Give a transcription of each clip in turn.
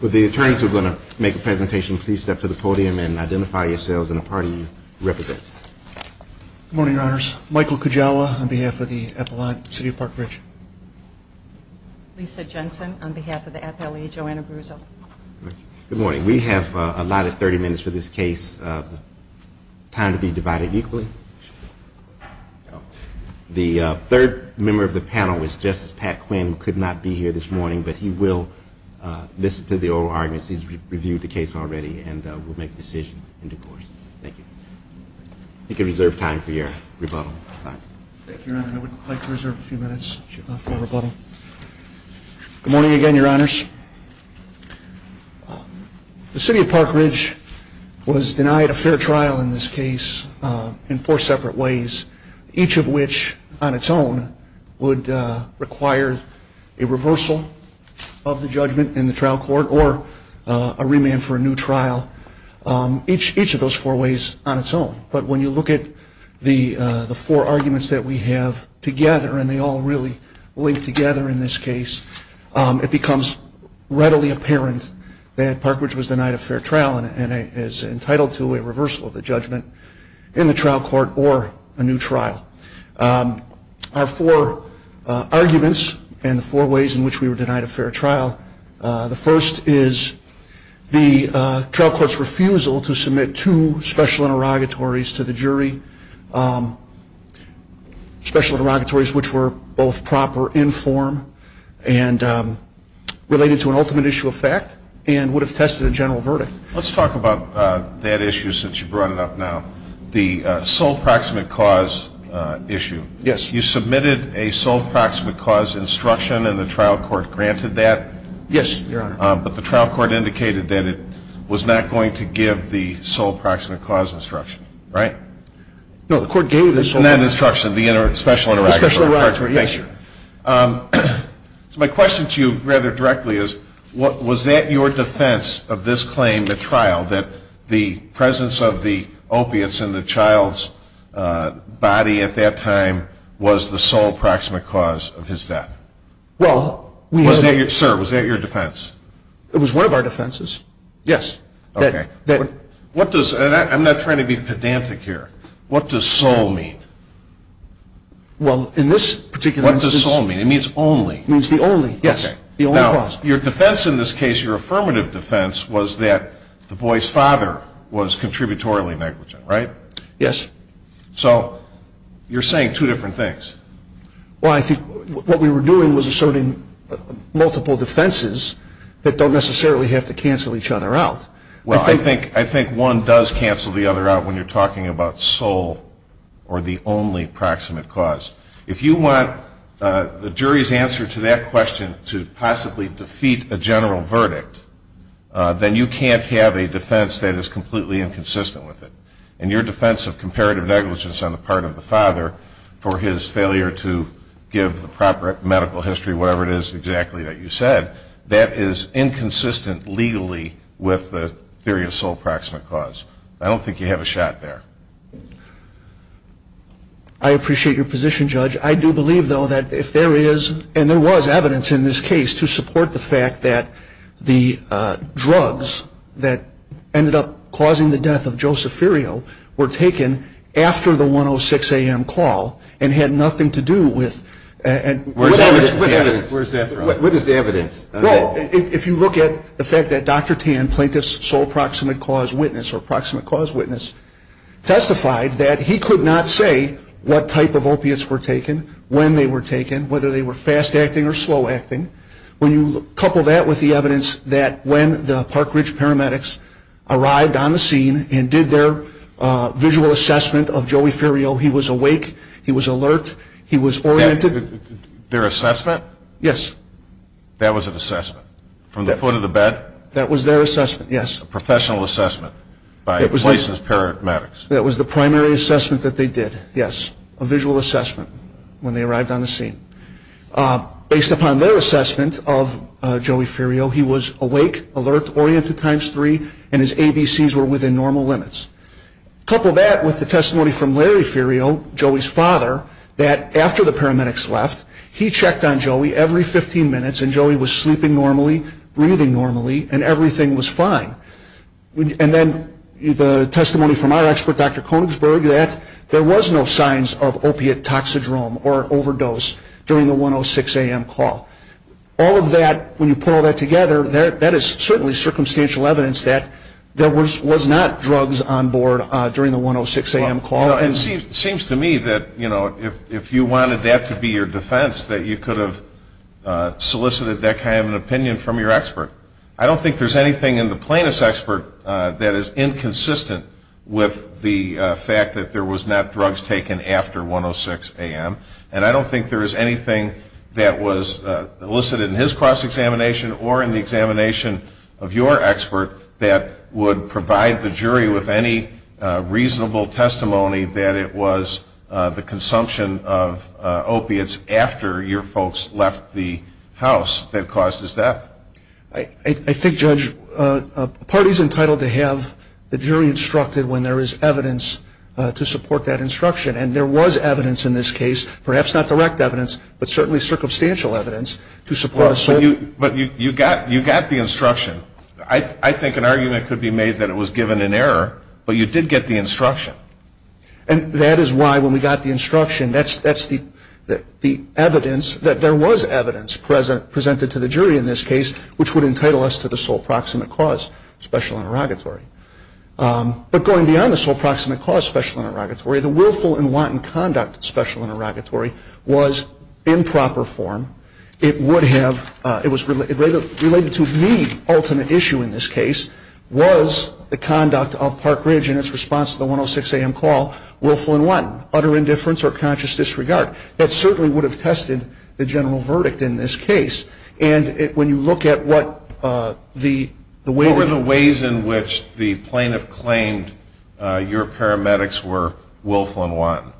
With the attorneys who are going to make a presentation, please step to the podium and identify yourselves and the party you represent. Good morning, Your Honors. Michael Kujawa on behalf of the Appalachian City of Park Ridge. Lisa Jensen on behalf of the Appalachian City of Park Ridge. Good morning. We have allotted 30 minutes for this case. Time to be divided equally. The third member of the panel is Justice Pat Quinn, who could not be here this morning, but he will listen to the oral arguments. He's reviewed the case already and will make a decision in due course. Thank you. You can reserve time for your rebuttal. Thank you, Your Honor. I would like to reserve a few minutes for rebuttal. Good morning again, Your Honors. The City of Park Ridge was denied a fair trial in this case in four separate ways, each of which on its own would require a reversal of the judgment in the trial court or a remand for a new trial. Each of those four ways on its own. But when you look at the four arguments that we have together, and they all really link together in this case, it becomes readily apparent that Park Ridge was denied a fair trial and is entitled to a reversal of the judgment in the trial court or a new trial. Our four arguments and the four ways in which we were denied a fair trial, the first is the trial court's refusal to submit two special interrogatories to the jury, special interrogatories which were both proper in form and related to an ultimate issue of fact and would have tested a general verdict. Let's talk about that issue since you brought it up now, the sole proximate cause issue. Yes. You submitted a sole proximate cause instruction and the trial court granted that? Yes, Your Honor. But the trial court indicated that it was not going to give the sole proximate cause instruction, right? No, the court gave the sole proximate cause instruction. Not instruction, the special interrogatory. The special interrogatory, yes. So my question to you rather directly is, was that your defense of this claim at trial, that the presence of the opiates in the child's body at that time was the sole proximate cause of his death? Well, we have a... Sir, was that your defense? It was one of our defenses, yes. Okay. What does, and I'm not trying to be pedantic here, what does sole mean? Well, in this particular instance... What does sole mean? It means only. It means the only, yes, the only cause. The sole proximate cause was that the boy's father was contributorily negligent, right? Yes. So you're saying two different things. Well, I think what we were doing was asserting multiple defenses that don't necessarily have to cancel each other out. Well, I think one does cancel the other out when you're talking about sole or the only proximate cause. If you want the jury's answer to that question to possibly defeat a general verdict, then you can't have a defense that is completely inconsistent with it. And your defense of comparative negligence on the part of the father for his failure to give the proper medical history, whatever it is exactly that you said, that is inconsistent legally with the theory of sole proximate cause. I don't think you have a shot there. I appreciate your position, Judge. I do believe, though, that if there is, and there was evidence in this case to support the fact that the drugs that ended up causing the death of Joseph Ferio were taken after the 106 AM call and had nothing to do with... Where's that from? What is the evidence? Well, if you look at the fact that Dr. Tan plaintiffs sole proximate cause witness or proximate cause witness, testified that he could not say what type of opiates were taken, when they were taken, whether they were fast acting or slow acting. When you couple that with the evidence that when the Park Ridge paramedics arrived on the scene and did their visual assessment of Joey Ferio, he was awake, he was alert, he was oriented... Their assessment? Yes. That was an assessment from the foot of the bed? That was their assessment, yes. A professional assessment by the place's paramedics? That was the primary assessment that they did, yes. A visual assessment when they arrived on the scene. Based upon their assessment of Joey Ferio, he was awake, alert, oriented times three, and his ABCs were within normal limits. Couple that with the testimony from Larry Ferio, Joey's father, that after the paramedics left, he checked on Joey every 15 minutes, and Joey was sleeping normally, breathing normally, and everything was fine. And then the testimony from our expert, Dr. Konigsberg, that there was no signs of opiate toxidrome or overdose during the 106 a.m. call. All of that, when you put all that together, that is certainly circumstantial evidence that there was not drugs on board during the 106 a.m. call. It seems to me that if you wanted that to be your defense, that you could have solicited that kind of an opinion from your expert. I don't think there's anything in the plaintiff's expert that is inconsistent with the fact that there was not drugs taken after 106 a.m., and I don't think there is anything that was elicited in his cross-examination or in the examination of your expert that would provide the jury with any reasonable testimony that it was the consumption of opiates after your folks left the house that caused his death. I think, Judge, a party is entitled to have the jury instructed when there is evidence to support that instruction. And there was evidence in this case, perhaps not direct evidence, but certainly circumstantial evidence, to support us. But you got the instruction. I think an argument could be made that it was given in error, but you did get the instruction. And that is why, when we got the instruction, that's the evidence that there was evidence presented to the jury in this case which would entitle us to the sole proximate cause, special interrogatory. But going beyond the sole proximate cause, special interrogatory, the willful and wanton conduct special interrogatory was in proper form. It was related to the ultimate issue in this case was the conduct of Park Ridge in its response to the 106 AM call, willful and wanton, utter indifference or conscious disregard. That certainly would have tested the general verdict in this case. And when you look at what the way that you ---- What were the ways in which the plaintiff claimed your paramedics were willful and wanton,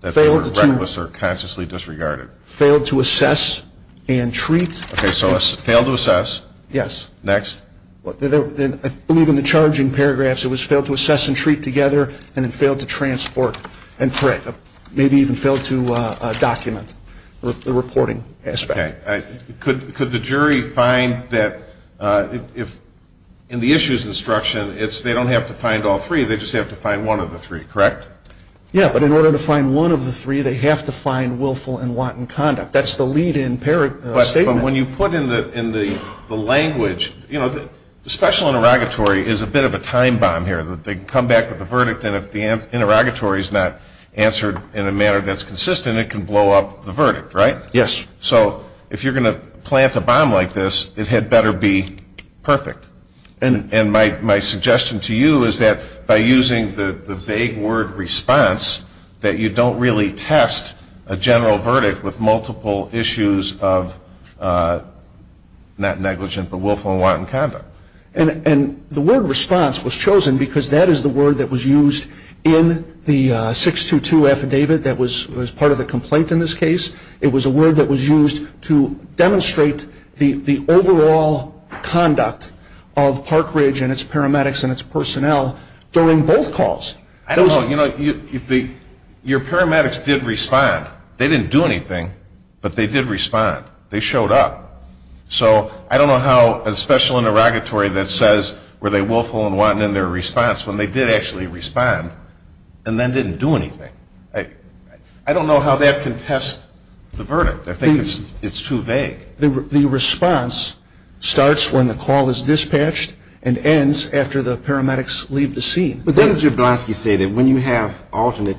that they were reckless or consciously disregarded? Failed to assess and treat. Okay. So failed to assess. Yes. Next. I believe in the charging paragraphs it was failed to assess and treat together and then failed to transport. And correct. Maybe even failed to document the reporting aspect. Okay. Could the jury find that if, in the issues instruction, they don't have to find all three, they just have to find one of the three. Correct? Yeah. But in order to find one of the three, they have to find willful and wanton conduct. That's the lead-in statement. But when you put in the language, you know, the special interrogatory is a bit of a time bomb here. They come back with a verdict, and if the interrogatory is not answered in a manner that's consistent, it can blow up the verdict, right? Yes. So if you're going to plant a bomb like this, it had better be perfect. And my suggestion to you is that by using the vague word response, that you don't really test a general verdict with multiple issues of not negligent but willful and wanton conduct. And the word response was chosen because that is the word that was used in the 622 affidavit that was part of the complaint in this case. It was a word that was used to demonstrate the overall conduct of Park Ridge and its paramedics and its personnel during both calls. I don't know. You know, your paramedics did respond. They didn't do anything, but they did respond. They showed up. So I don't know how a special interrogatory that says, were they willful and wanton in their response, when they did actually respond and then didn't do anything. I don't know how that can test the verdict. I think it's too vague. The response starts when the call is dispatched and ends after the paramedics leave the scene. But doesn't Jablonski say that when you have alternate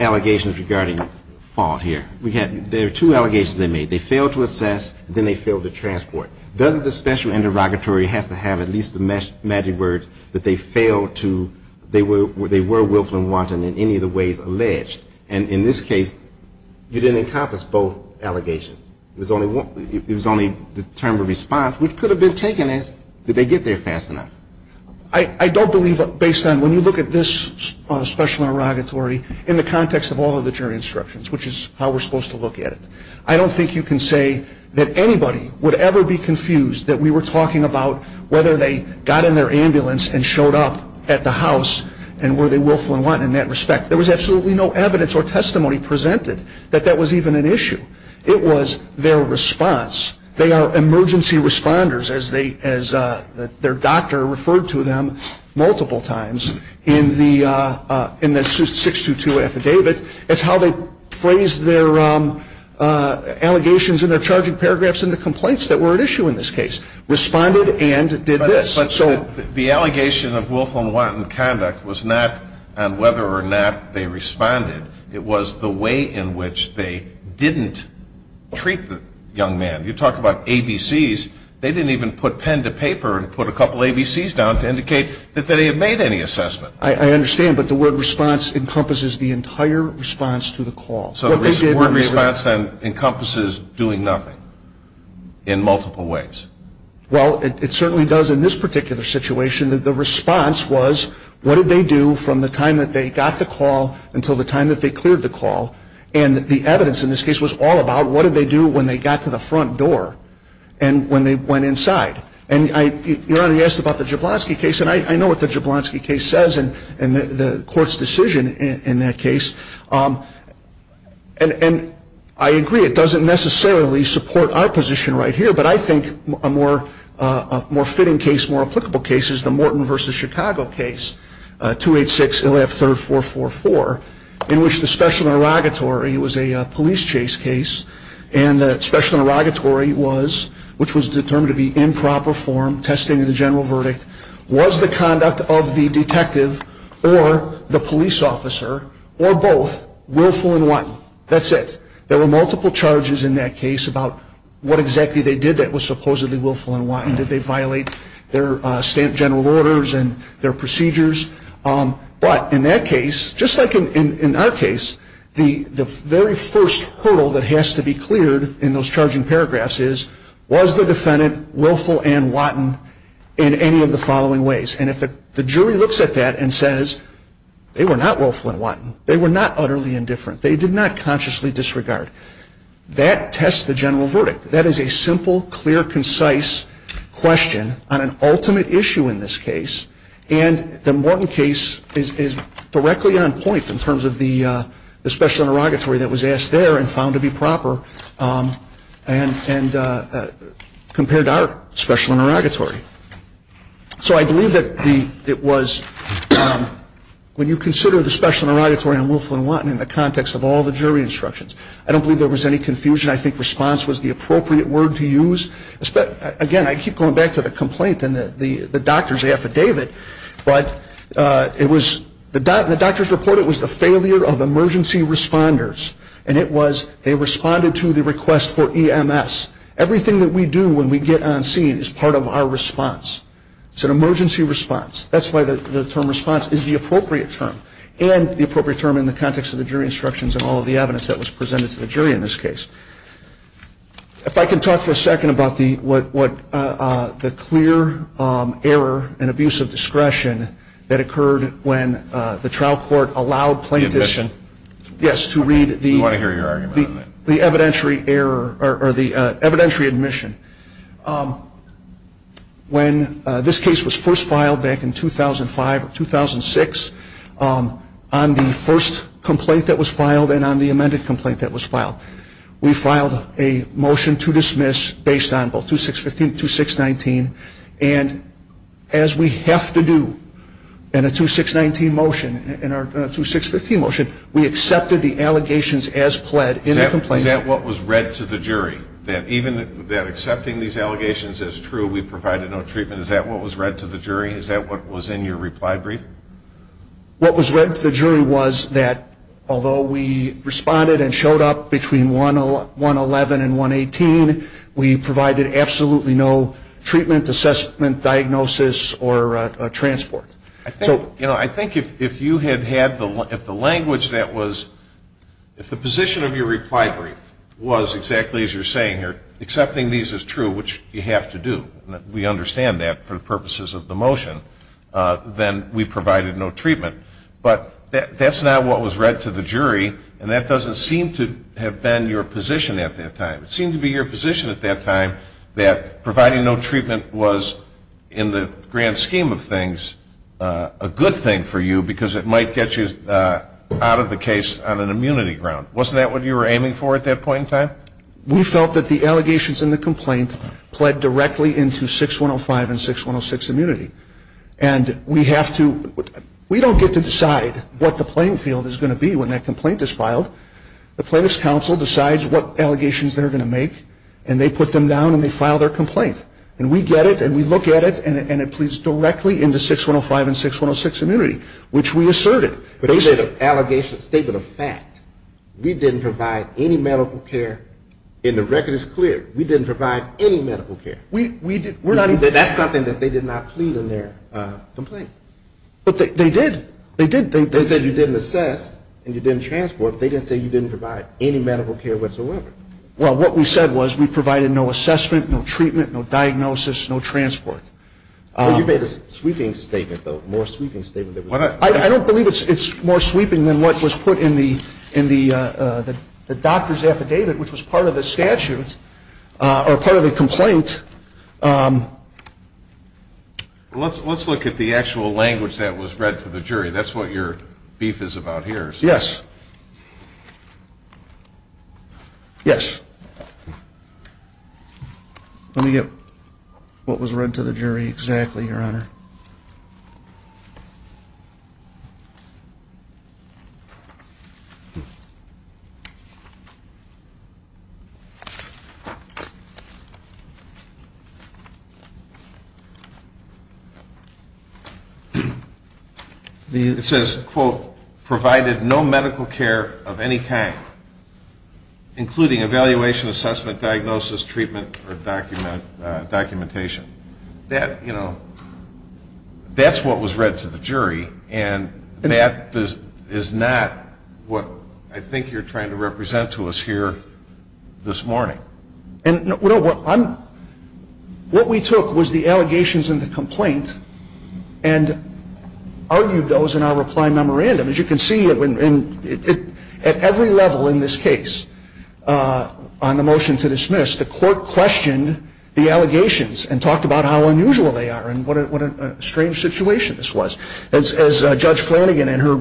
allegations regarding fault here, there are two allegations they made. They failed to assess and then they failed to transport. Doesn't the special interrogatory have to have at least the magic words that they failed to, they were willful and wanton in any of the ways alleged. And in this case, you didn't encompass both allegations. It was only the term of response, which could have been taken as, did they get there fast enough. I don't believe, based on when you look at this special interrogatory, in the context of all of the jury instructions, which is how we're supposed to look at it, I don't think you can say that anybody would ever be confused that we were talking about whether they got in their ambulance and showed up at the house and were they willful and wanton in that respect. There was absolutely no evidence or testimony presented that that was even an issue. It was their response. They are emergency responders, as their doctor referred to them multiple times in the 622 affidavit. It's how they phrased their allegations in their charging paragraphs and the complaints that were at issue in this case. Responded and did this. But the allegation of willful and wanton conduct was not on whether or not they responded. It was the way in which they didn't treat the young man. You talk about ABCs, they didn't even put pen to paper and put a couple ABCs down to indicate that they had made any assessment. I understand, but the word response encompasses the entire response to the call. Word response encompasses doing nothing in multiple ways. Well, it certainly does in this particular situation. The response was what did they do from the time that they got the call until the time that they cleared the call. And the evidence in this case was all about what did they do when they got to the front door and when they went inside. Your Honor, you asked about the Jablonski case, and I know what the Jablonski case says and the court's decision in that case. And I agree, it doesn't necessarily support our position right here, but I think a more fitting case, more applicable case, is the Morton v. Chicago case, 286 Illiop III-444, in which the special interrogatory was a police chase case and the special interrogatory was, which was determined to be improper form, testing of the general verdict, was the conduct of the detective or the police officer or both Willful and Watton. That's it. There were multiple charges in that case about what exactly they did that was supposedly Willful and Watton. Did they violate their stamp general orders and their procedures? But in that case, just like in our case, the very first hurdle that has to be cleared in those charging paragraphs is, was the defendant Willful and Watton in any of the following ways? And if the jury looks at that and says they were not Willful and Watton, they were not utterly indifferent, they did not consciously disregard, that tests the general verdict. That is a simple, clear, concise question on an ultimate issue in this case, and the Morton case is directly on point in terms of the special interrogatory that was asked there and found to be proper and compared to our special interrogatory. So I believe that it was, when you consider the special interrogatory on Willful and Watton in the context of all the jury instructions, I don't believe there was any confusion. I think response was the appropriate word to use. Again, I keep going back to the complaint and the doctor's affidavit, but it was, the doctor's report, it was the failure of emergency responders, and it was they responded to the request for EMS. Everything that we do when we get on scene is part of our response. It's an emergency response. That's why the term response is the appropriate term, and the appropriate term in the context of the jury instructions and all of the evidence that was presented to the jury in this case. If I can talk for a second about the clear error and abuse of discretion that occurred when the trial court allowed plaintiffs to read the evidentiary error or the evidentiary admission. When this case was first filed back in 2005 or 2006, on the first complaint that was filed and on the amended complaint that was filed, we filed a motion to dismiss based on both 2615 and 2619, and as we have to do in a 2619 motion, in our 2615 motion, we accepted the allegations as pled in the complaint. Is that what was read to the jury? That even accepting these allegations as true, we provided no treatment, is that what was read to the jury? Is that what was in your reply brief? What was read to the jury was that although we responded and showed up between 111 and 118, we provided absolutely no treatment, assessment, diagnosis, or transport. I think if you had had the language that was, if the position of your reply brief was exactly as you're saying here, accepting these as true, which you have to do, and we understand that for the purposes of the motion, then we provided no treatment. But that's not what was read to the jury, and that doesn't seem to have been your position at that time. It seemed to be your position at that time that providing no treatment was, in the grand scheme of things, a good thing for you because it might get you out of the case on an immunity ground. Wasn't that what you were aiming for at that point in time? We felt that the allegations in the complaint pled directly into 6105 and 6106 immunity. And we don't get to decide what the playing field is going to be when that complaint is filed. The plaintiff's counsel decides what allegations they're going to make, and they put them down and they file their complaint. And we get it, and we look at it, and it pleads directly into 6105 and 6106 immunity, which we asserted. But it's a statement of fact. We didn't provide any medical care, and the record is clear. We didn't provide any medical care. That's something that they did not plead in their complaint. But they did. They did. They said you didn't assess and you didn't transport, but they didn't say you didn't provide any medical care whatsoever. Well, what we said was we provided no assessment, no treatment, no diagnosis, no transport. You made a sweeping statement, though, a more sweeping statement. I don't believe it's more sweeping than what was put in the doctor's affidavit, which was part of the statute or part of the complaint. Let's look at the actual language that was read to the jury. That's what your beef is about here. Yes. Yes. Let me get what was read to the jury exactly, Your Honor. Your Honor. It says, quote, provided no medical care of any kind, including evaluation, assessment, diagnosis, treatment, or documentation. That, you know, that's what was read to the jury, and that is not what I think you're trying to represent to us here this morning. What we took was the allegations in the complaint and argued those in our reply memorandum. As you can see, at every level in this case on the motion to dismiss, the court questioned the allegations and talked about how unusual they are and what a strange situation this was. As Judge Flanagan in her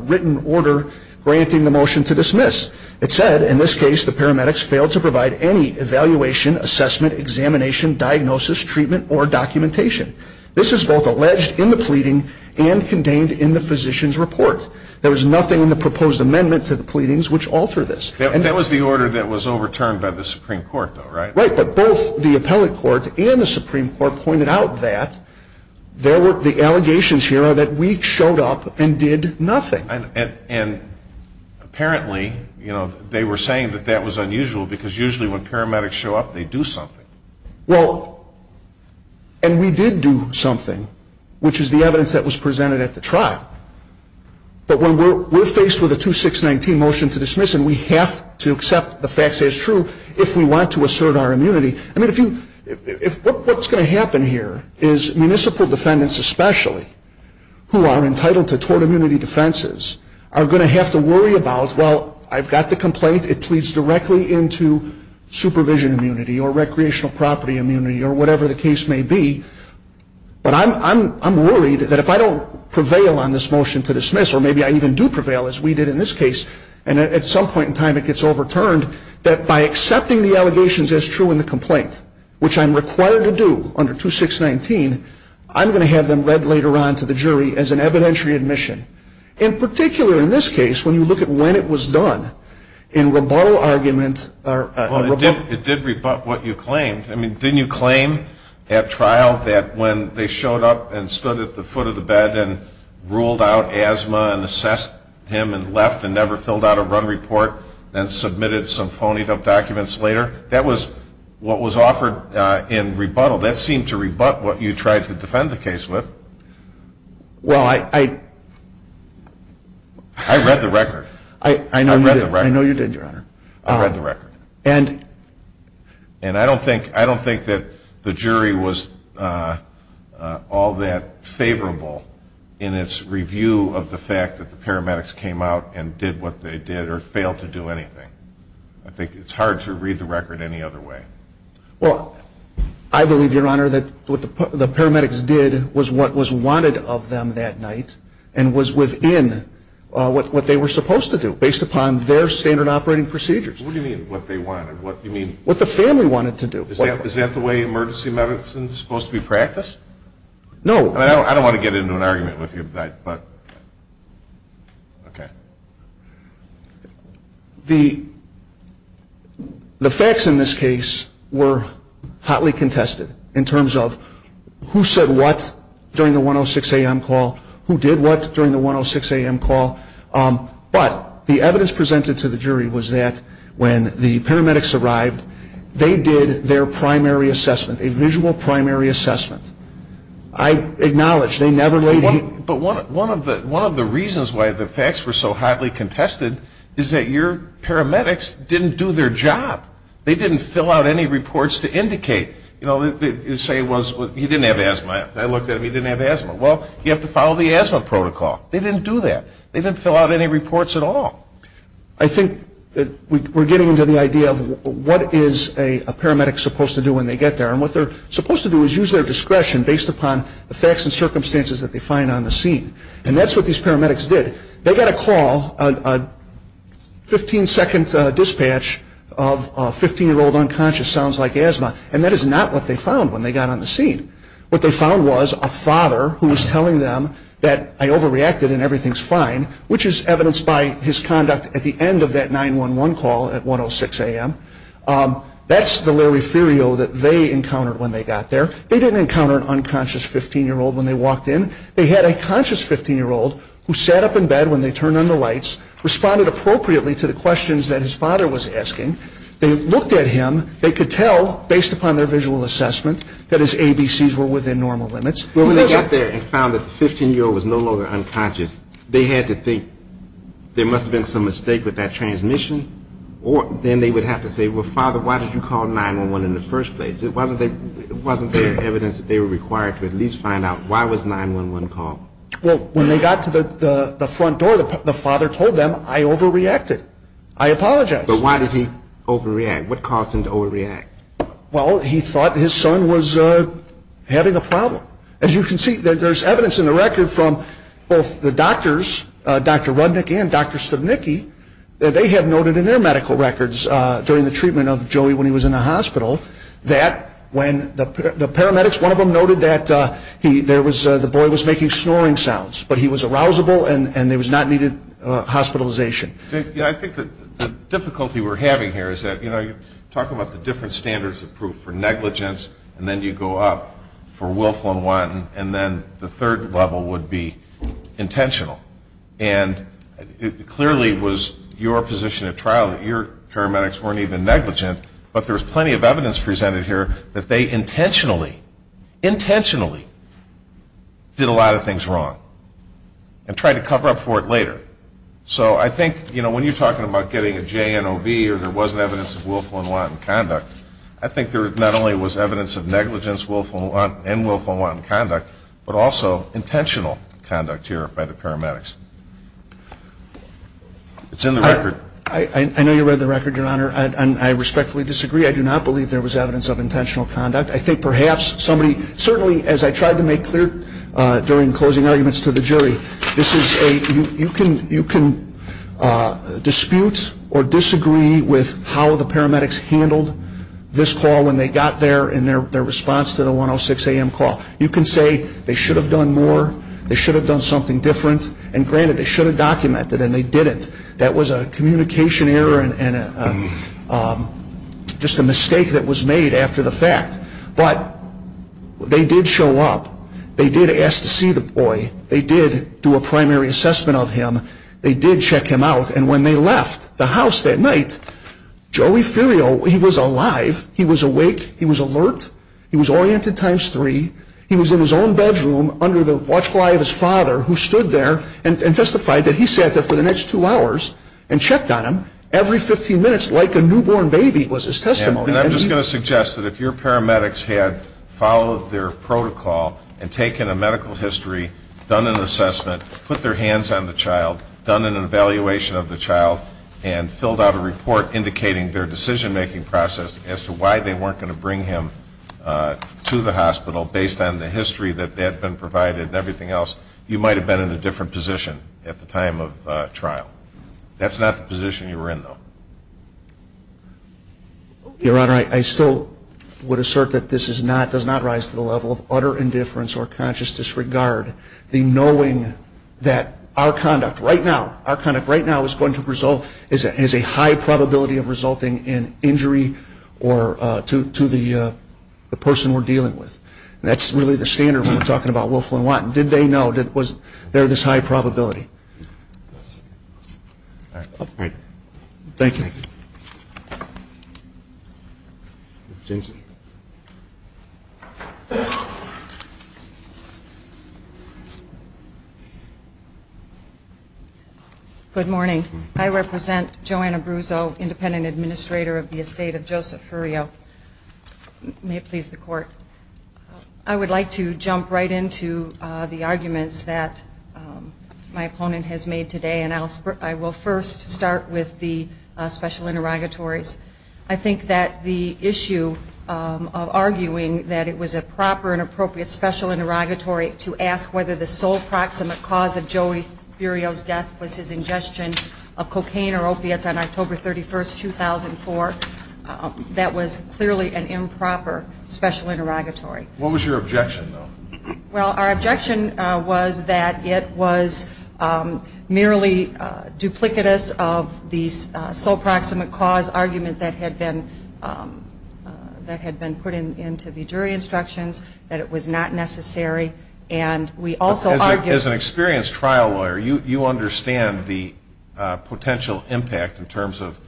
written order granting the motion to dismiss, it said, in this case, the paramedics failed to provide any evaluation, assessment, examination, diagnosis, treatment, or documentation. This is both alleged in the pleading and contained in the physician's report. There was nothing in the proposed amendment to the pleadings which altered this. That was the order that was overturned by the Supreme Court, though, right? Right. But both the appellate court and the Supreme Court pointed out that the allegations here are that we showed up and did nothing. And apparently, you know, they were saying that that was unusual because usually when paramedics show up, they do something. Well, and we did do something, which is the evidence that was presented at the trial. But when we're faced with a 2619 motion to dismiss, and we have to accept the facts as true if we want to assert our immunity. I mean, what's going to happen here is municipal defendants especially who are entitled to tort immunity defenses are going to have to worry about, well, I've got the complaint. It pleads directly into supervision immunity or recreational property immunity or whatever the case may be. But I'm worried that if I don't prevail on this motion to dismiss, or maybe I even do prevail as we did in this case, and at some point in time it gets overturned, that by accepting the allegations as true in the complaint, which I'm required to do under 2619, I'm going to have them read later on to the jury as an evidentiary admission. In particular, in this case, when you look at when it was done, in rebuttal argument or rebuttal. Well, it did rebut what you claimed. I mean, didn't you claim at trial that when they showed up and stood at the foot of the bed and ruled out asthma and assessed him and left and never filled out a run report and submitted some phonied up documents later? That was what was offered in rebuttal. That seemed to rebut what you tried to defend the case with. Well, I read the record. I know you did, Your Honor. I read the record. And I don't think that the jury was all that favorable in its review of the fact that the paramedics came out and did what they did or failed to do anything. I think it's hard to read the record any other way. Well, I believe, Your Honor, that what the paramedics did was what was wanted of them that night and was within what they were supposed to do based upon their standard operating procedures. What do you mean, what they wanted? What do you mean? What the family wanted to do. Is that the way emergency medicine is supposed to be practiced? No. I don't want to get into an argument with you, but, okay. The facts in this case were hotly contested in terms of who said what during the 106 AM call, who did what during the 106 AM call. But the evidence presented to the jury was that when the paramedics arrived, they did their primary assessment, a visual primary assessment. I acknowledge they never laid a hand. But one of the reasons why the facts were so hotly contested is that your paramedics didn't do their job. They didn't fill out any reports to indicate, you know, say he didn't have asthma. I looked at him. He didn't have asthma. Well, you have to follow the asthma protocol. They didn't do that. They didn't fill out any reports at all. I think that we're getting into the idea of what is a paramedic supposed to do when they get there. And what they're supposed to do is use their discretion based upon the facts and circumstances that they find on the scene. And that's what these paramedics did. They got a call, a 15-second dispatch of a 15-year-old unconscious, sounds like asthma, and that is not what they found when they got on the scene. What they found was a father who was telling them that I overreacted and everything's fine, which is evidenced by his conduct at the end of that 911 call at 106 a.m. That's the Larry Ferriero that they encountered when they got there. They didn't encounter an unconscious 15-year-old when they walked in. They had a conscious 15-year-old who sat up in bed when they turned on the lights, responded appropriately to the questions that his father was asking. They looked at him. They could tell based upon their visual assessment that his ABCs were within normal limits. But when they got there and found that the 15-year-old was no longer unconscious, they had to think there must have been some mistake with that transmission, or then they would have to say, well, Father, why did you call 911 in the first place? Wasn't there evidence that they were required to at least find out why was 911 called? Well, when they got to the front door, the father told them I overreacted. I apologize. But why did he overreact? What caused him to overreact? Well, he thought his son was having a problem. As you can see, there's evidence in the record from both the doctors, Dr. Rudnick and Dr. Stubnicki, that they have noted in their medical records during the treatment of Joey when he was in the hospital that when the paramedics, one of them noted that the boy was making snoring sounds, but he was arousable and there was not needed hospitalization. I think the difficulty we're having here is that, you know, you're talking about the different standards of proof for negligence, and then you go up for Wilflin-Wanton, and then the third level would be intentional. And it clearly was your position at trial that your paramedics weren't even negligent, but there's plenty of evidence presented here that they intentionally, intentionally did a lot of things wrong and tried to cover up for it later. So I think, you know, when you're talking about getting a JNOV or there wasn't evidence of Wilflin-Wanton conduct, I think there not only was evidence of negligence in Wilflin-Wanton conduct, but also intentional conduct here by the paramedics. It's in the record. I know you read the record, Your Honor, and I respectfully disagree. I do not believe there was evidence of intentional conduct. I think perhaps somebody, certainly as I tried to make clear during closing arguments to the jury, this is a, you can dispute or disagree with how the paramedics handled this call when they got there in their response to the 106 AM call. You can say they should have done more, they should have done something different, and granted, they should have documented it, and they didn't. That was a communication error and just a mistake that was made after the fact. But they did show up. They did ask to see the boy. They did do a primary assessment of him. They did check him out. And when they left the house that night, Joey Ferriero, he was alive. He was awake. He was alert. He was oriented times three. He was in his own bedroom under the watchful eye of his father who stood there and testified that he sat there for the next two hours and checked on him every 15 minutes like a newborn baby was his testimony. And I'm just going to suggest that if your paramedics had followed their protocol and taken a medical history, done an assessment, put their hands on the child, done an evaluation of the child, and filled out a report indicating their decision-making process as to why they weren't going to bring him to the hospital based on the history that had been provided and everything else, you might have been in a different position at the time of trial. That's not the position you were in, though. Your Honor, I still would assert that this does not rise to the level of utter indifference or conscious disregard, the knowing that our conduct right now, our conduct right now is going to result, is a high probability of resulting in injury to the person we're dealing with. And that's really the standard when we're talking about Wilflyn Watt. Did they know? Was there this high probability? All right. Thank you. Ms. Jensen. Good morning. I represent Joanna Bruzzo, Independent Administrator of the Estate of Joseph Furio. May it please the Court. I would like to jump right into the arguments that my opponent has made today, and I will first start with the special interrogatories. I think that the issue of arguing that it was a proper and appropriate special interrogatory to ask whether the sole proximate cause of Joey Furio's death was his ingestion of cocaine or opiates on October 31, 2004, that was clearly an improper special interrogatory. What was your objection, though? Well, our objection was that it was merely duplicitous of the sole proximate cause argument that had been put into the jury instructions, that it was not necessary. As an experienced trial lawyer, you understand the potential impact in terms of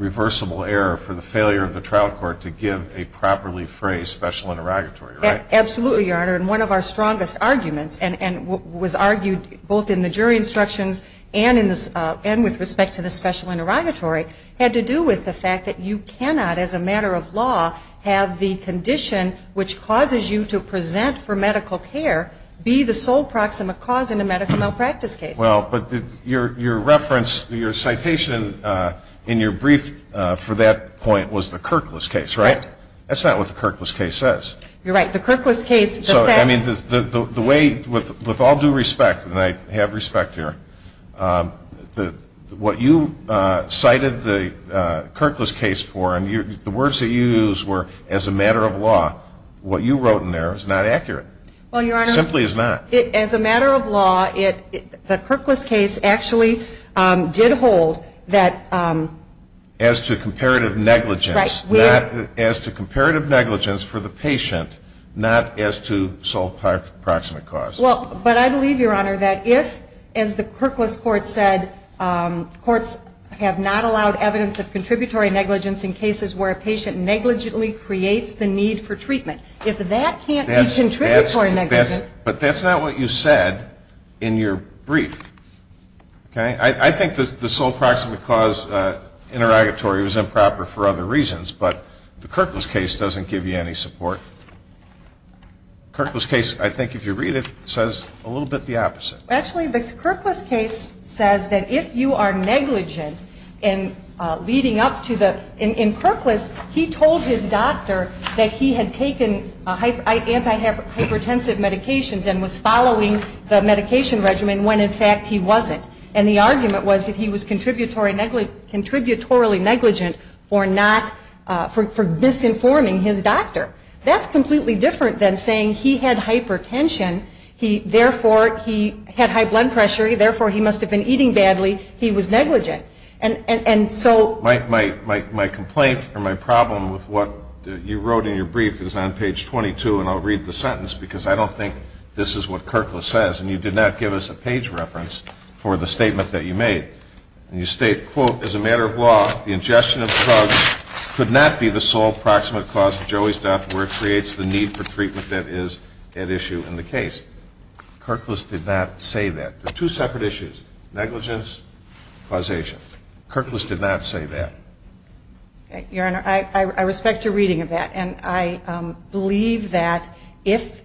reversible error for the failure of the trial court to give a properly phrased special interrogatory, right? Absolutely, Your Honor. And one of our strongest arguments, and was argued both in the jury instructions and with respect to the special interrogatory, had to do with the fact that you cannot, as a matter of law, have the condition which causes you to present for medical care be the sole proximate cause in a medical malpractice case. Well, but your reference, your citation in your brief for that point was the Kirklis case, right? Right. That's not what the Kirklis case says. You're right. The Kirklis case, the facts... I mean, the way, with all due respect, and I have respect here, what you cited the Kirklis case for, and the words that you used were, as a matter of law, what you wrote in there is not accurate. Well, Your Honor... As a matter of law, the Kirklis case actually did hold that... As to comparative negligence. Right. As to comparative negligence for the patient, not as to sole proximate cause. Well, but I believe, Your Honor, that if, as the Kirklis court said, courts have not allowed evidence of contributory negligence in cases where a patient negligently creates the need for treatment. If that can't be contributory negligence... But that's not what you said in your brief. Okay? I think the sole proximate cause interrogatory was improper for other reasons, but the Kirklis case doesn't give you any support. The Kirklis case, I think if you read it, says a little bit the opposite. Actually, the Kirklis case says that if you are negligent in leading up to the... and was following the medication regimen when, in fact, he wasn't. And the argument was that he was contributory negligent for not... for misinforming his doctor. That's completely different than saying he had hypertension, therefore he had high blood pressure, therefore he must have been eating badly, he was negligent. And so... My complaint or my problem with what you wrote in your brief is on page 22, and I'll read the sentence because I don't think this is what Kirklis says, and you did not give us a page reference for the statement that you made. And you state, quote, as a matter of law the ingestion of drugs could not be the sole proximate cause of Joey's death where it creates the need for treatment that is at issue in the case. Kirklis did not say that. They're two separate issues, negligence, causation. Kirklis did not say that. Your Honor, I respect your reading of that, and I believe that if,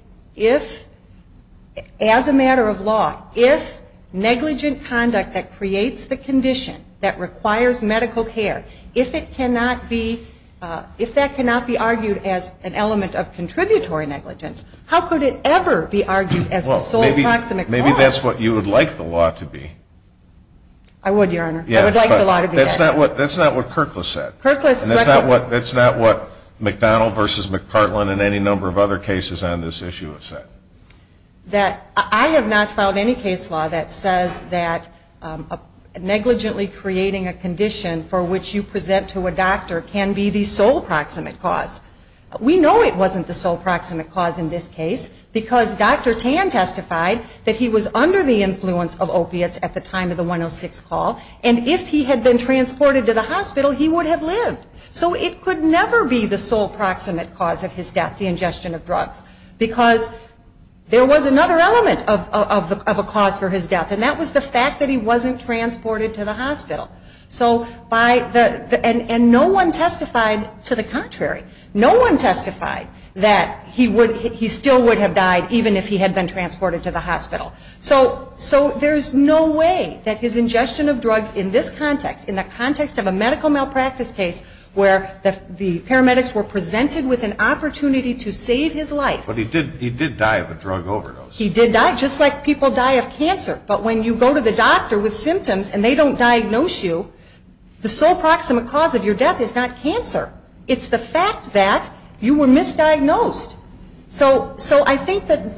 as a matter of law, if negligent conduct that creates the condition that requires medical care, if that cannot be argued as an element of contributory negligence, how could it ever be argued as the sole proximate cause? Well, maybe that's what you would like the law to be. I would, Your Honor. I would like the law to be that. That's not what Kirklis said. That's not what McDonnell v. McPartland and any number of other cases on this issue have said. I have not found any case law that says that negligently creating a condition for which you present to a doctor can be the sole proximate cause. We know it wasn't the sole proximate cause in this case because Dr. Tan testified that he was under the influence of opiates at the time of the 106 call, and if he had been transported to the hospital, he would have lived. So it could never be the sole proximate cause of his death, the ingestion of drugs, because there was another element of a cause for his death, and that was the fact that he wasn't transported to the hospital. And no one testified to the contrary. No one testified that he still would have died even if he had been transported to the hospital. So there's no way that his ingestion of drugs in this context, in the context of a medical malpractice case where the paramedics were presented with an opportunity to save his life. But he did die of a drug overdose. He did die, just like people die of cancer. But when you go to the doctor with symptoms and they don't diagnose you, the sole proximate cause of your death is not cancer. It's the fact that you were misdiagnosed. So I think that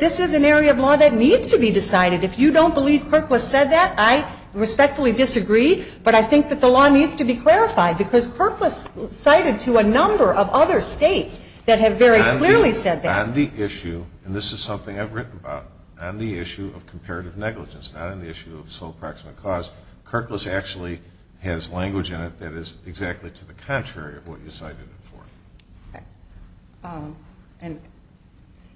this is an area of law that needs to be decided. If you don't believe Kirklis said that, I respectfully disagree, but I think that the law needs to be clarified, because Kirklis cited to a number of other states that have very clearly said that. On the issue, and this is something I've written about, on the issue of comparative negligence, not on the issue of sole proximate cause, Kirklis actually has language in it that is exactly to the contrary of what you cited it for.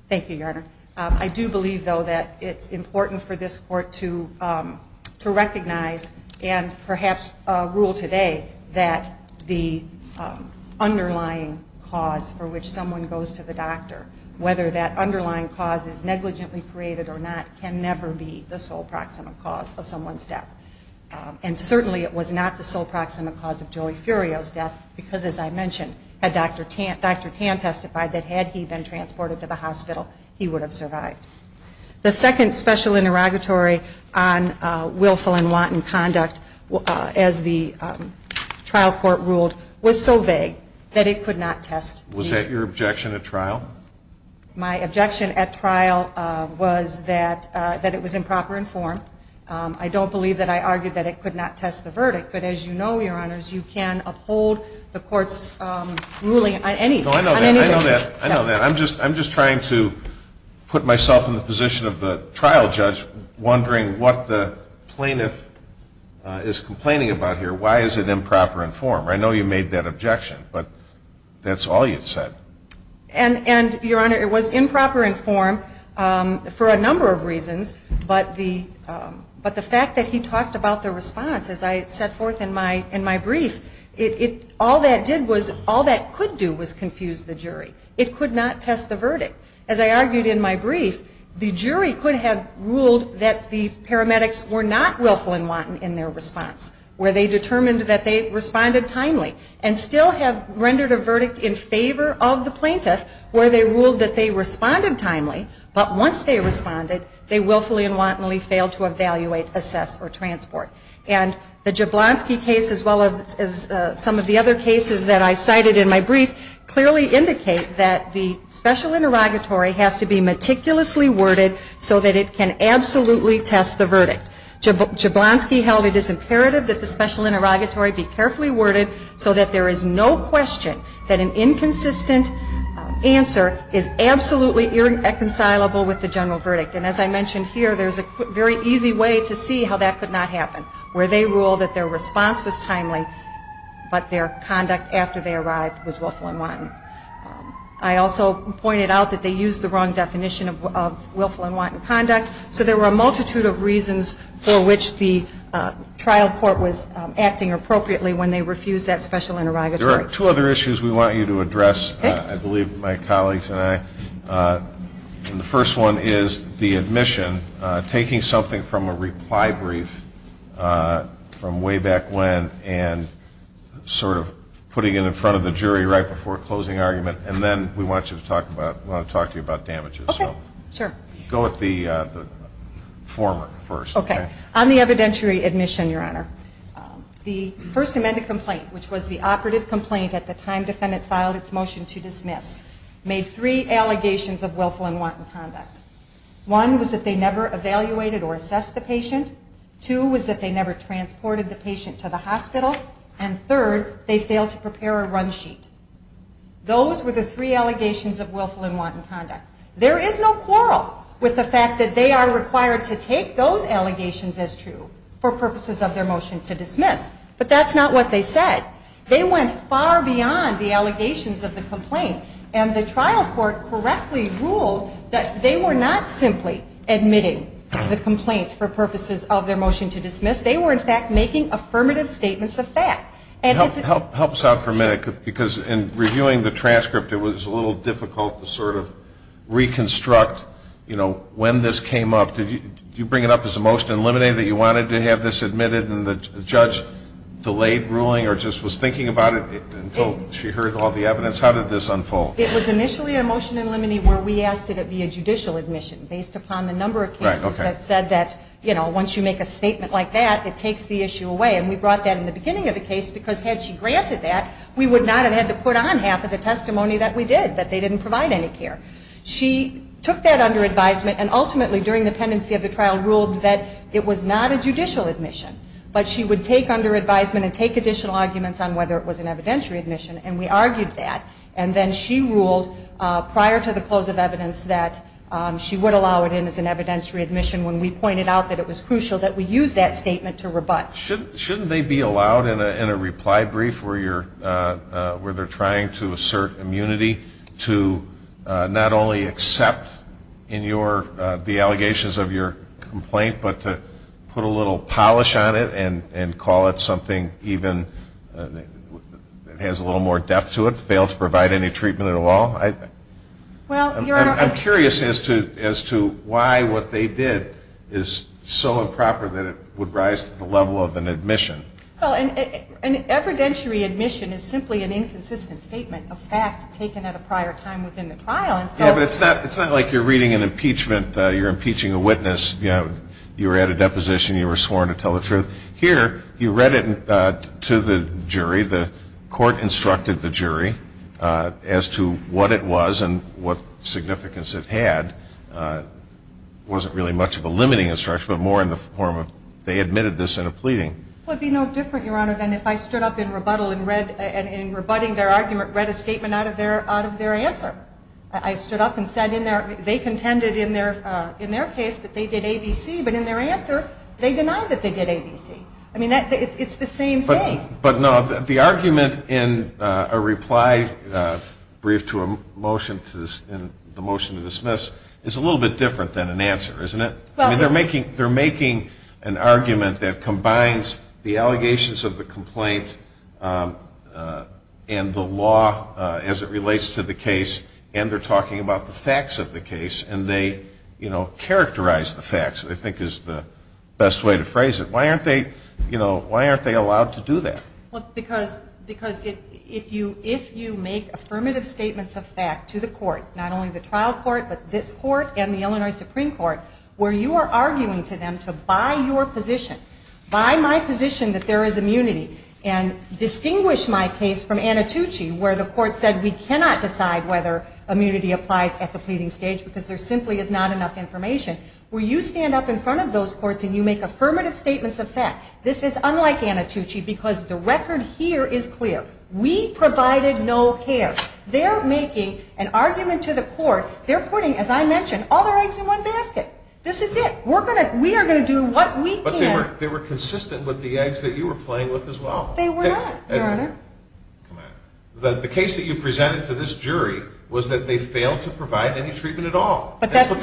Thank you, Your Honor. I do believe, though, that it's important for this court to recognize and perhaps rule today that the underlying cause for which someone goes to the doctor, whether that underlying cause is negligently created or not, can never be the sole proximate cause of someone's death. And certainly it was not the sole proximate cause of Joey Furio's death, because, as I mentioned, had Dr. Tan testified that had he been transported to the hospital, he would have survived. The second special interrogatory on willful and wanton conduct, as the trial court ruled, was so vague that it could not test me. Was that your objection at trial? My objection at trial was that it was improper in form. I don't believe that I argued that it could not test the verdict, but as you know, Your Honors, you can uphold the court's ruling on any basis. No, I know that. I know that. I'm just trying to put myself in the position of the trial judge, wondering what the plaintiff is complaining about here. Why is it improper in form? I know you made that objection, but that's all you've said. But the fact that he talked about the response, as I set forth in my brief, all that could do was confuse the jury. It could not test the verdict. As I argued in my brief, the jury could have ruled that the paramedics were not willful and wanton in their response, where they determined that they responded timely, and still have rendered a verdict in favor of the plaintiff where they ruled that they responded timely, but once they responded, they willfully and wantonly failed to evaluate, assess, or transport. And the Jablonski case, as well as some of the other cases that I cited in my brief, clearly indicate that the special interrogatory has to be meticulously worded so that it can absolutely test the verdict. Jablonski held it is imperative that the special interrogatory be carefully worded so that there is no question that an inconsistent answer is absolutely irreconcilable with the general verdict. And as I mentioned here, there's a very easy way to see how that could not happen, where they ruled that their response was timely, but their conduct after they arrived was willful and wanton. I also pointed out that they used the wrong definition of willful and wanton conduct, so there were a multitude of reasons for which the trial court was acting appropriately when they refused that special interrogatory. There are two other issues we want you to address, I believe, my colleagues and I. The first one is the admission, taking something from a reply brief from way back when and sort of putting it in front of the jury right before closing argument, and then we want to talk to you about damages. Okay. Sure. Go with the former first. Okay. On the evidentiary admission, Your Honor, the first amended complaint, which was the operative complaint at the time defendant filed its motion to dismiss, made three allegations of willful and wanton conduct. One was that they never evaluated or assessed the patient. Two was that they never transported the patient to the hospital. And third, they failed to prepare a run sheet. Those were the three allegations of willful and wanton conduct. There is no quarrel with the fact that they are required to take those allegations as true for purposes of their motion to dismiss. But that's not what they said. They went far beyond the allegations of the complaint, and the trial court correctly ruled that they were not simply admitting the complaint for purposes of their motion to dismiss. They were, in fact, making affirmative statements of fact. Help us out for a minute, because in reviewing the transcript, it was a little difficult to sort of reconstruct, you know, when this came up. Did you bring it up as a motion to eliminate, that you wanted to have this admitted and the judge delayed ruling or just was thinking about it until she heard all the evidence? How did this unfold? It was initially a motion to eliminate where we asked that it be a judicial admission, based upon the number of cases that said that, you know, once you make a statement like that, it takes the issue away. And we brought that in the beginning of the case, because had she granted that, we would not have had to put on half of the testimony that we did, that they didn't provide any care. She took that under advisement and ultimately, during the pendency of the trial, ruled that it was not a judicial admission, but she would take under advisement and take additional arguments on whether it was an evidentiary admission, and we argued that. And then she ruled, prior to the close of evidence, that she would allow it in as an evidentiary admission when we pointed out that it was crucial that we use that statement to rebut. Shouldn't they be allowed in a reply brief where they're trying to assert immunity to not only accept the allegations of your complaint, but to put a little polish on it and call it something even that has a little more depth to it, fail to provide any treatment at all? I'm curious as to why what they did is so improper that it would rise to the level of an admission. An evidentiary admission is simply an inconsistent statement of fact taken at a prior time within the trial. Yeah, but it's not like you're reading an impeachment, you're impeaching a witness, you were at a deposition, you were sworn to tell the truth. Here, you read it to the jury, the court instructed the jury as to what it was and what significance it had. It wasn't really much of a limiting instruction, but more in the form of they admitted this in a pleading. Well, it would be no different, Your Honor, than if I stood up in rebuttal and in rebutting their argument read a statement out of their answer. I stood up and said they contended in their case that they did ABC, but in their answer they denied that they did ABC. I mean, it's the same thing. But no, the argument in a reply brief to a motion to dismiss is a little bit different than an answer, isn't it? I mean, they're making an argument that combines the allegations of the complaint and the law as it relates to the case, and they're talking about the facts of the case, and they characterize the facts, I think is the best way to phrase it. Why aren't they allowed to do that? Because if you make affirmative statements of fact to the court, not only the trial court, but this court and the Illinois Supreme Court, where you are arguing to them to buy your position, buy my position that there is immunity, and distinguish my case from Anacucci, where the court said we cannot decide whether immunity applies at the pleading stage because there simply is not enough information, where you stand up in front of those courts and you make affirmative statements of fact, this is unlike Anacucci because the record here is clear. We provided no care. They're making an argument to the court. They're putting, as I mentioned, all their eggs in one basket. This is it. We are going to do what we can. But they were consistent with the eggs that you were playing with as well. They were not, Your Honor. The case that you presented to this jury was that they failed to provide any treatment at all. That's what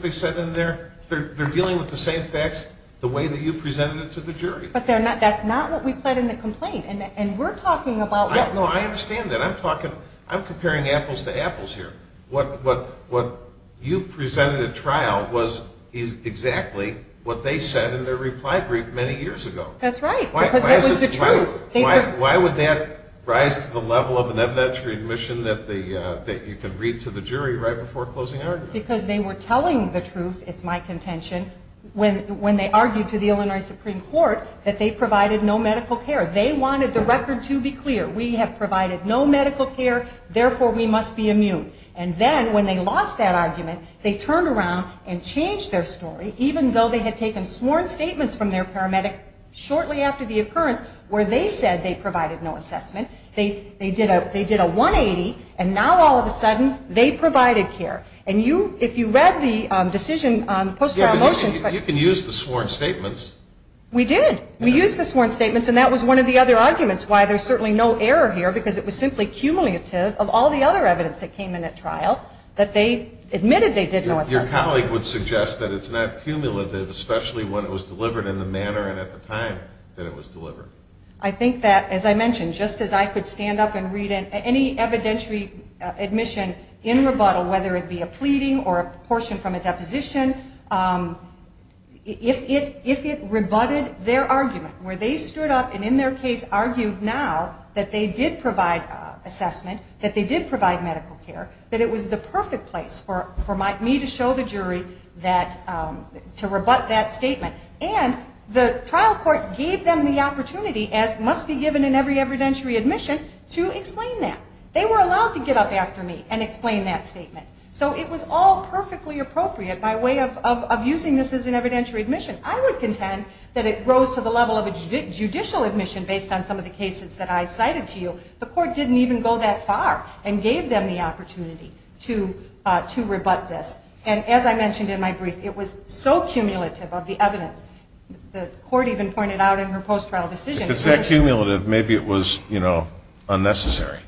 they said in their – they're dealing with the same facts the way that you presented it to the jury. But that's not what we pled in the complaint, and we're talking about – No, I understand that. I'm talking – I'm comparing apples to apples here. What you presented at trial was exactly what they said in their reply brief many years ago. That's right, because that was the truth. Why would that rise to the level of an evidentiary admission that you could read to the jury right before closing argument? Because they were telling the truth, it's my contention, when they argued to the Illinois Supreme Court that they provided no medical care. They wanted the record to be clear. We have provided no medical care, therefore we must be immune. And then when they lost that argument, they turned around and changed their story, even though they had taken sworn statements from their paramedics shortly after the occurrence where they said they provided no assessment. They did a 180, and now all of a sudden they provided care. And you – if you read the decision on the post-trial motions – You can use the sworn statements. We did. We used the sworn statements, and that was one of the other arguments why there's certainly no error here, because it was simply cumulative of all the other evidence that came in at trial that they admitted they did know assessment. Your colleague would suggest that it's not cumulative, especially when it was delivered in the manner and at the time that it was delivered. I think that, as I mentioned, just as I could stand up and read any evidentiary admission in rebuttal, whether it be a pleading or a portion from a deposition, if it rebutted their argument where they stood up and in their case argued now that they did provide assessment, that they did provide medical care, that it was the perfect place for me to show the jury that – to rebut that statement. And the trial court gave them the opportunity, as must be given in every evidentiary admission, to explain that. They were allowed to get up after me and explain that statement. So it was all perfectly appropriate by way of using this as an evidentiary admission. I would contend that it rose to the level of a judicial admission based on some of the cases that I cited to you. The court didn't even go that far and gave them the opportunity to rebut this. And as I mentioned in my brief, it was so cumulative of the evidence. The court even pointed out in her post-trial decision – If it's that cumulative, maybe it was, you know, unnecessary.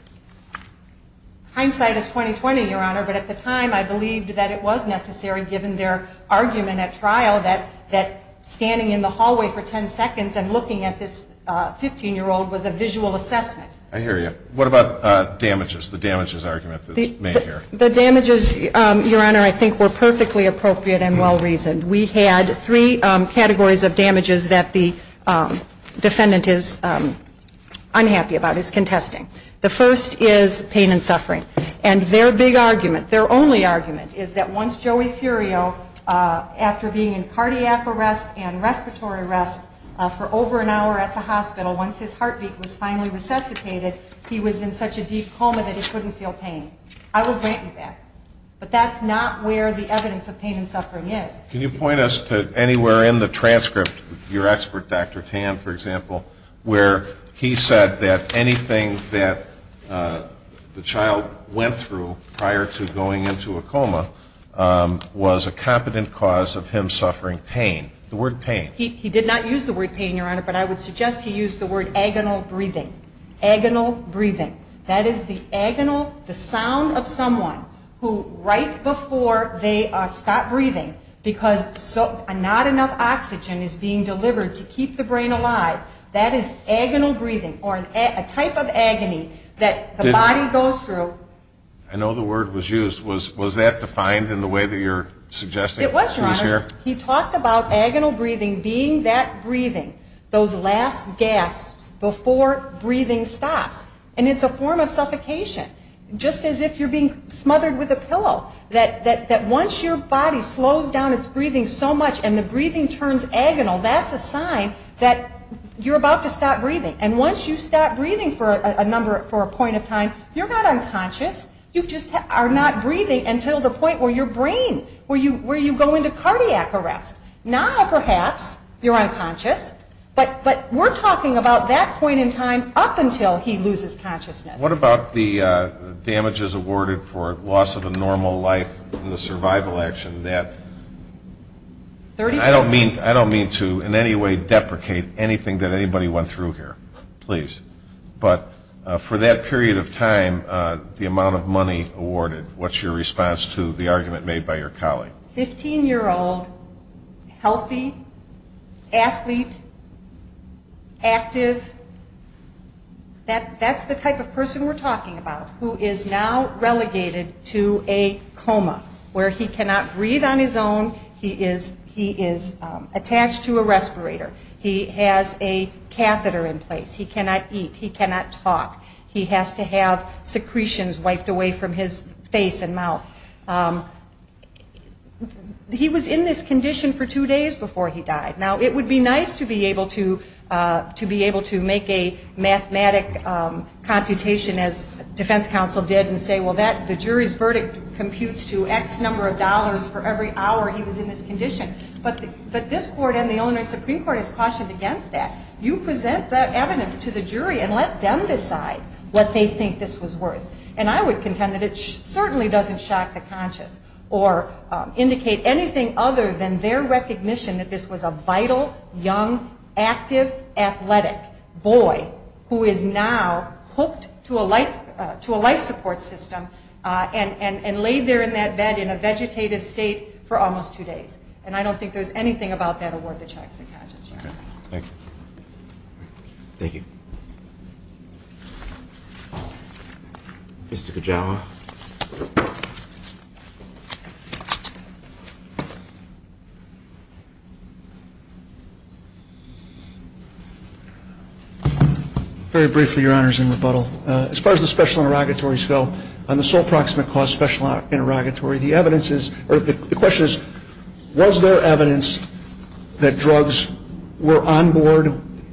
Hindsight is 20-20, Your Honor, but at the time I believed that it was necessary, given their argument at trial that standing in the hallway for 10 seconds and looking at this 15-year-old was a visual assessment. I hear you. What about damages, the damages argument that's made here? The damages, Your Honor, I think were perfectly appropriate and well-reasoned. We had three categories of damages that the defendant is unhappy about, is contesting. The first is pain and suffering. And their big argument, their only argument, is that once Joey Furio, after being in cardiac arrest and respiratory arrest for over an hour at the hospital, once his heartbeat was finally resuscitated, he was in such a deep coma that he couldn't feel pain. I will grant you that. But that's not where the evidence of pain and suffering is. Can you point us to anywhere in the transcript, your expert, Dr. Tan, for example, where he said that anything that the child went through prior to going into a coma was a competent cause of him suffering pain? The word pain. He did not use the word pain, Your Honor, but I would suggest he used the word agonal breathing. Agonal breathing. That is the agonal, the sound of someone who right before they stop breathing because not enough oxygen is being delivered to keep the brain alive, that is agonal breathing or a type of agony that the body goes through. I know the word was used. Was that defined in the way that you're suggesting? It was, Your Honor. He talked about agonal breathing being that breathing, those last gasps before breathing stops. And it's a form of suffocation, just as if you're being smothered with a pillow, that once your body slows down its breathing so much and the breathing turns agonal, that's a sign that you're about to stop breathing. And once you stop breathing for a point in time, you're not unconscious. You just are not breathing until the point where your brain, where you go into cardiac arrest. Now, perhaps, you're unconscious, but we're talking about that point in time up until he loses consciousness. What about the damages awarded for loss of a normal life and the survival action? I don't mean to in any way deprecate anything that anybody went through here, please. But for that period of time, the amount of money awarded, what's your response to the argument made by your colleague? Fifteen-year-old, healthy, athlete, active. That's the type of person we're talking about who is now relegated to a coma, where he cannot breathe on his own. He is attached to a respirator. He has a catheter in place. He cannot eat. He cannot talk. He has to have secretions wiped away from his face and mouth. He was in this condition for two days before he died. Now, it would be nice to be able to make a mathematic computation, as defense counsel did, and say, well, the jury's verdict computes to X number of dollars for every hour he was in this condition. But this court and the Illinois Supreme Court has cautioned against that. You present that evidence to the jury and let them decide what they think this was worth. And I would contend that it certainly doesn't shock the conscious or indicate anything other than their recognition that this was a vital, young, active, athletic boy who is now hooked to a life support system and laid there in that bed in a vegetative state for almost two days. And I don't think there's anything about that award that shocks the conscious. Thank you. Thank you. Mr. Kajawa. Very briefly, Your Honors, in rebuttal. As far as the special interrogatories go, on the sole proximate cause special interrogatory, the question is, was there evidence that drugs were on board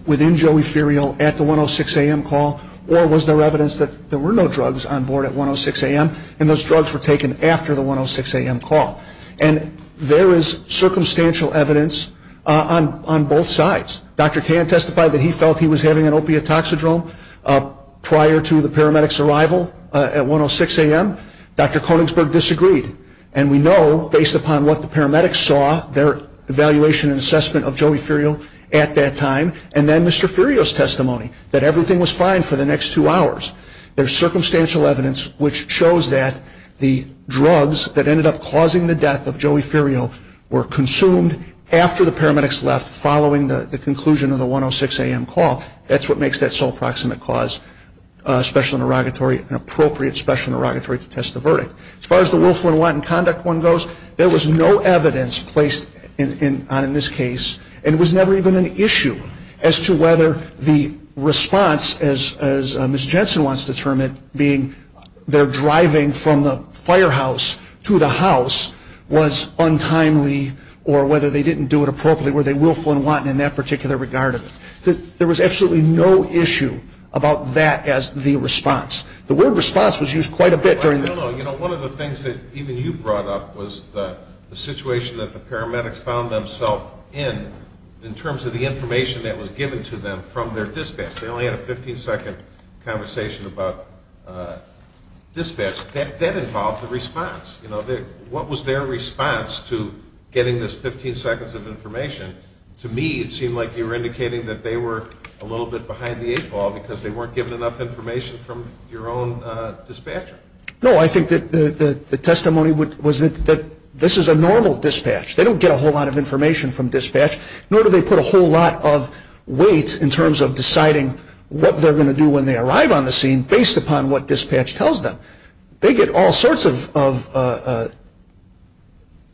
within Joey Ferial at the 106 a.m. call, or was there evidence that there were no drugs on board at 106 a.m. and those drugs were taken after the 106 a.m. call? And there is circumstantial evidence on both sides. Dr. Tan testified that he felt he was having an opiate toxidrome prior to the paramedic's arrival at 106 a.m. Dr. Konigsberg disagreed. And we know, based upon what the paramedics saw, their evaluation and assessment of Joey Ferial at that time, and then Mr. Ferial's testimony, that everything was fine for the next two hours. There's circumstantial evidence which shows that the drugs that ended up causing the death of Joey Ferial were consumed after the paramedics left following the conclusion of the 106 a.m. call. That's what makes that sole proximate cause special interrogatory an appropriate special interrogatory to test the verdict. As far as the willful and wanton conduct one goes, there was no evidence placed on in this case, and it was never even an issue as to whether the response, as Ms. Jensen wants to term it, being their driving from the firehouse to the house was untimely, or whether they didn't do it appropriately, were they willful and wanton in that particular regard. There was absolutely no issue about that as the response. The word response was used quite a bit during the... I don't know. One of the things that even you brought up was the situation that the paramedics found themselves in, in terms of the information that was given to them from their dispatch. They only had a 15-second conversation about dispatch. That involved the response. What was their response to getting this 15 seconds of information? To me, it seemed like you were indicating that they were a little bit behind the eight ball because they weren't given enough information from your own dispatcher. No, I think that the testimony was that this is a normal dispatch. They don't get a whole lot of information from dispatch, nor do they put a whole lot of weight in terms of deciding what they're going to do when they arrive on the scene based upon what dispatch tells them. They get all sorts of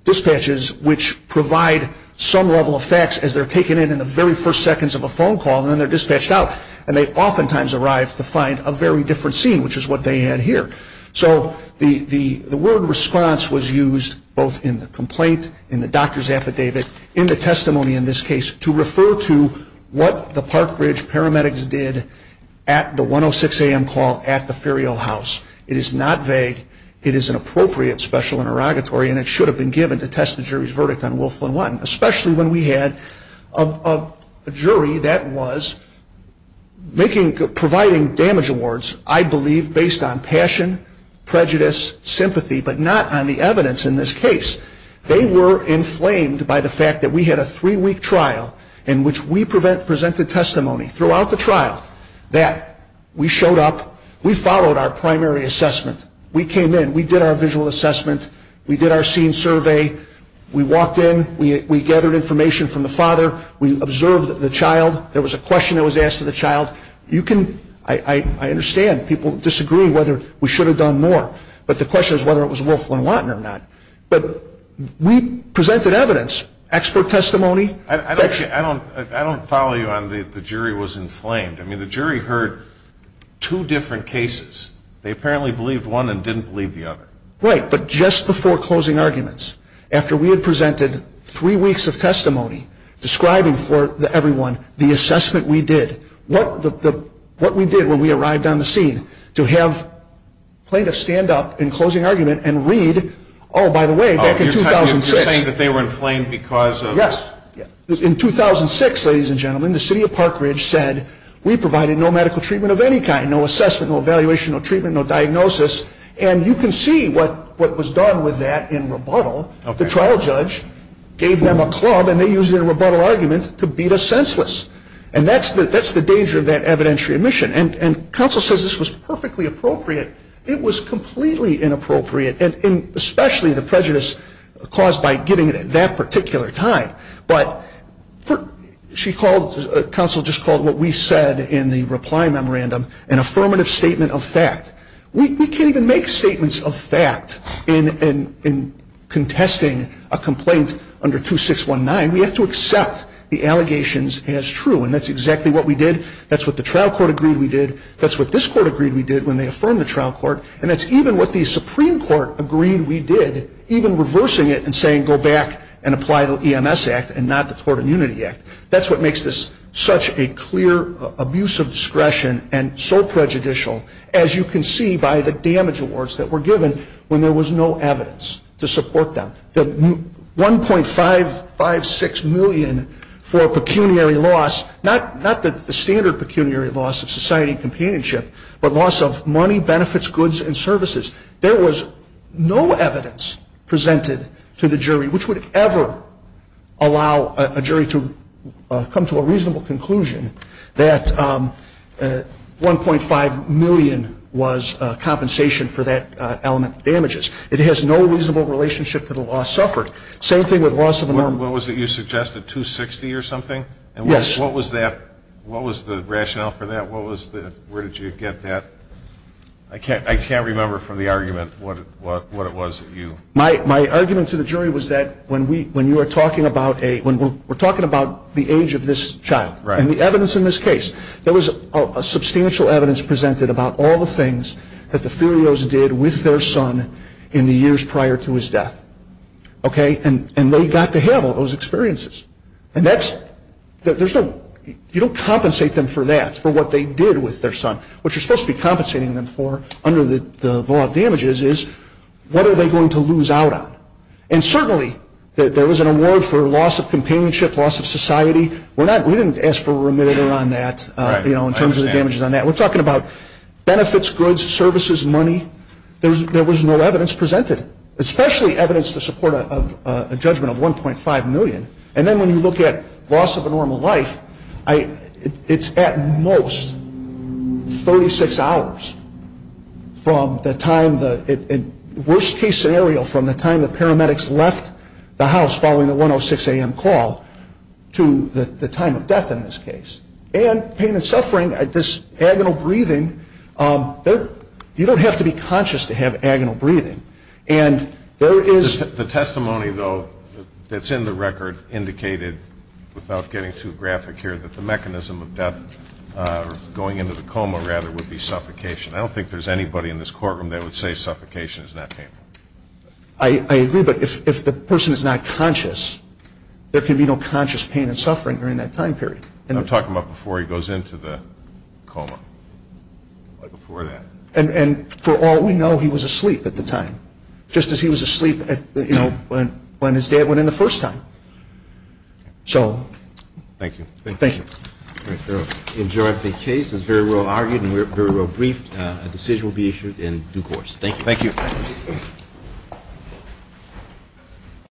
dispatches which provide some level of facts as they're taken in in the very first seconds of a phone call, and then they're dispatched out. And they oftentimes arrive to find a very different scene, which is what they had here. So the word response was used both in the complaint, in the doctor's affidavit, in the testimony in this case, to refer to what the Park Ridge paramedics did at the 106 AM call at the Ferial House. It is not vague. It is an appropriate special interrogatory, and it should have been given to test the jury's verdict on Wilflin 1, especially when we had a jury that was providing damage awards, I believe, based on passion, prejudice, sympathy, but not on the evidence in this case. They were inflamed by the fact that we had a three-week trial in which we presented testimony throughout the trial that we showed up, we followed our primary assessment, we came in, we did our visual assessment, we did our scene survey, we walked in, we gathered information from the father, we observed the child, there was a question that was asked of the child. I understand people disagree whether we should have done more, but the question is whether it was Wilflin or not. But we presented evidence, expert testimony. I don't follow you on the jury was inflamed. I mean, the jury heard two different cases. They apparently believed one and didn't believe the other. Right, but just before closing arguments, after we had presented three weeks of testimony describing for everyone the assessment we did, what we did when we arrived on the scene to have plaintiffs stand up in closing argument and read, oh, by the way, back in 2006. You're saying that they were inflamed because of this? Yes. In 2006, ladies and gentlemen, the city of Park Ridge said, we provided no medical treatment of any kind, no assessment, no evaluation, no treatment, no diagnosis. And you can see what was done with that in rebuttal. The trial judge gave them a club and they used it in a rebuttal argument to beat us senseless. And that's the danger of that evidentiary admission. And counsel says this was perfectly appropriate. It was completely inappropriate, and especially the prejudice caused by giving it at that particular time. But she called, counsel just called what we said in the reply memorandum an affirmative statement of fact. We can't even make statements of fact in contesting a complaint under 2619. We have to accept the allegations as true. And that's exactly what we did. That's what the trial court agreed we did. That's what this court agreed we did when they affirmed the trial court. And that's even what the Supreme Court agreed we did, even reversing it and saying go back and apply the EMS Act and not the Tort Immunity Act. That's what makes this such a clear abuse of discretion and so prejudicial, as you can see by the damage awards that were given when there was no evidence to support them. The 1.556 million for pecuniary loss, not the standard pecuniary loss of society companionship, but loss of money, benefits, goods, and services. There was no evidence presented to the jury which would ever allow a jury to come to a reasonable conclusion that 1.5 million was compensation for that element of damages. It has no reasonable relationship to the loss suffered. Same thing with loss of an arm. What was it you suggested, 260 or something? Yes. And what was that? What was the rationale for that? Where did you get that? I can't remember from the argument what it was that you. My argument to the jury was that when we're talking about the age of this child and the evidence in this case, there was substantial evidence presented about all the things that the Furios did with their son in the years prior to his death. Okay? And they got to have all those experiences. And you don't compensate them for that, for what they did with their son. What you're supposed to be compensating them for under the law of damages is what are they going to lose out on. And certainly there was an award for loss of companionship, loss of society. We didn't ask for a remitter on that in terms of the damages on that. We're talking about benefits, goods, services, money. There was no evidence presented, especially evidence to support a judgment of 1.5 million. And then when you look at loss of a normal life, it's at most 36 hours from the time the worst-case scenario, from the time the paramedics left the house following the 1.06 a.m. call to the time of death in this case. And pain and suffering, this agonal breathing, you don't have to be conscious to have agonal breathing. The testimony, though, that's in the record indicated, without getting too graphic here, that the mechanism of death going into the coma, rather, would be suffocation. I don't think there's anybody in this courtroom that would say suffocation is not painful. I agree, but if the person is not conscious, there can be no conscious pain and suffering during that time period. I'm talking about before he goes into the coma, before that. And for all we know, he was asleep at the time, just as he was asleep when his dad went in the first time. So thank you. Thank you. I enjoyed the case. It was very well argued and very well briefed. A decision will be issued in due course. Thank you. Thank you.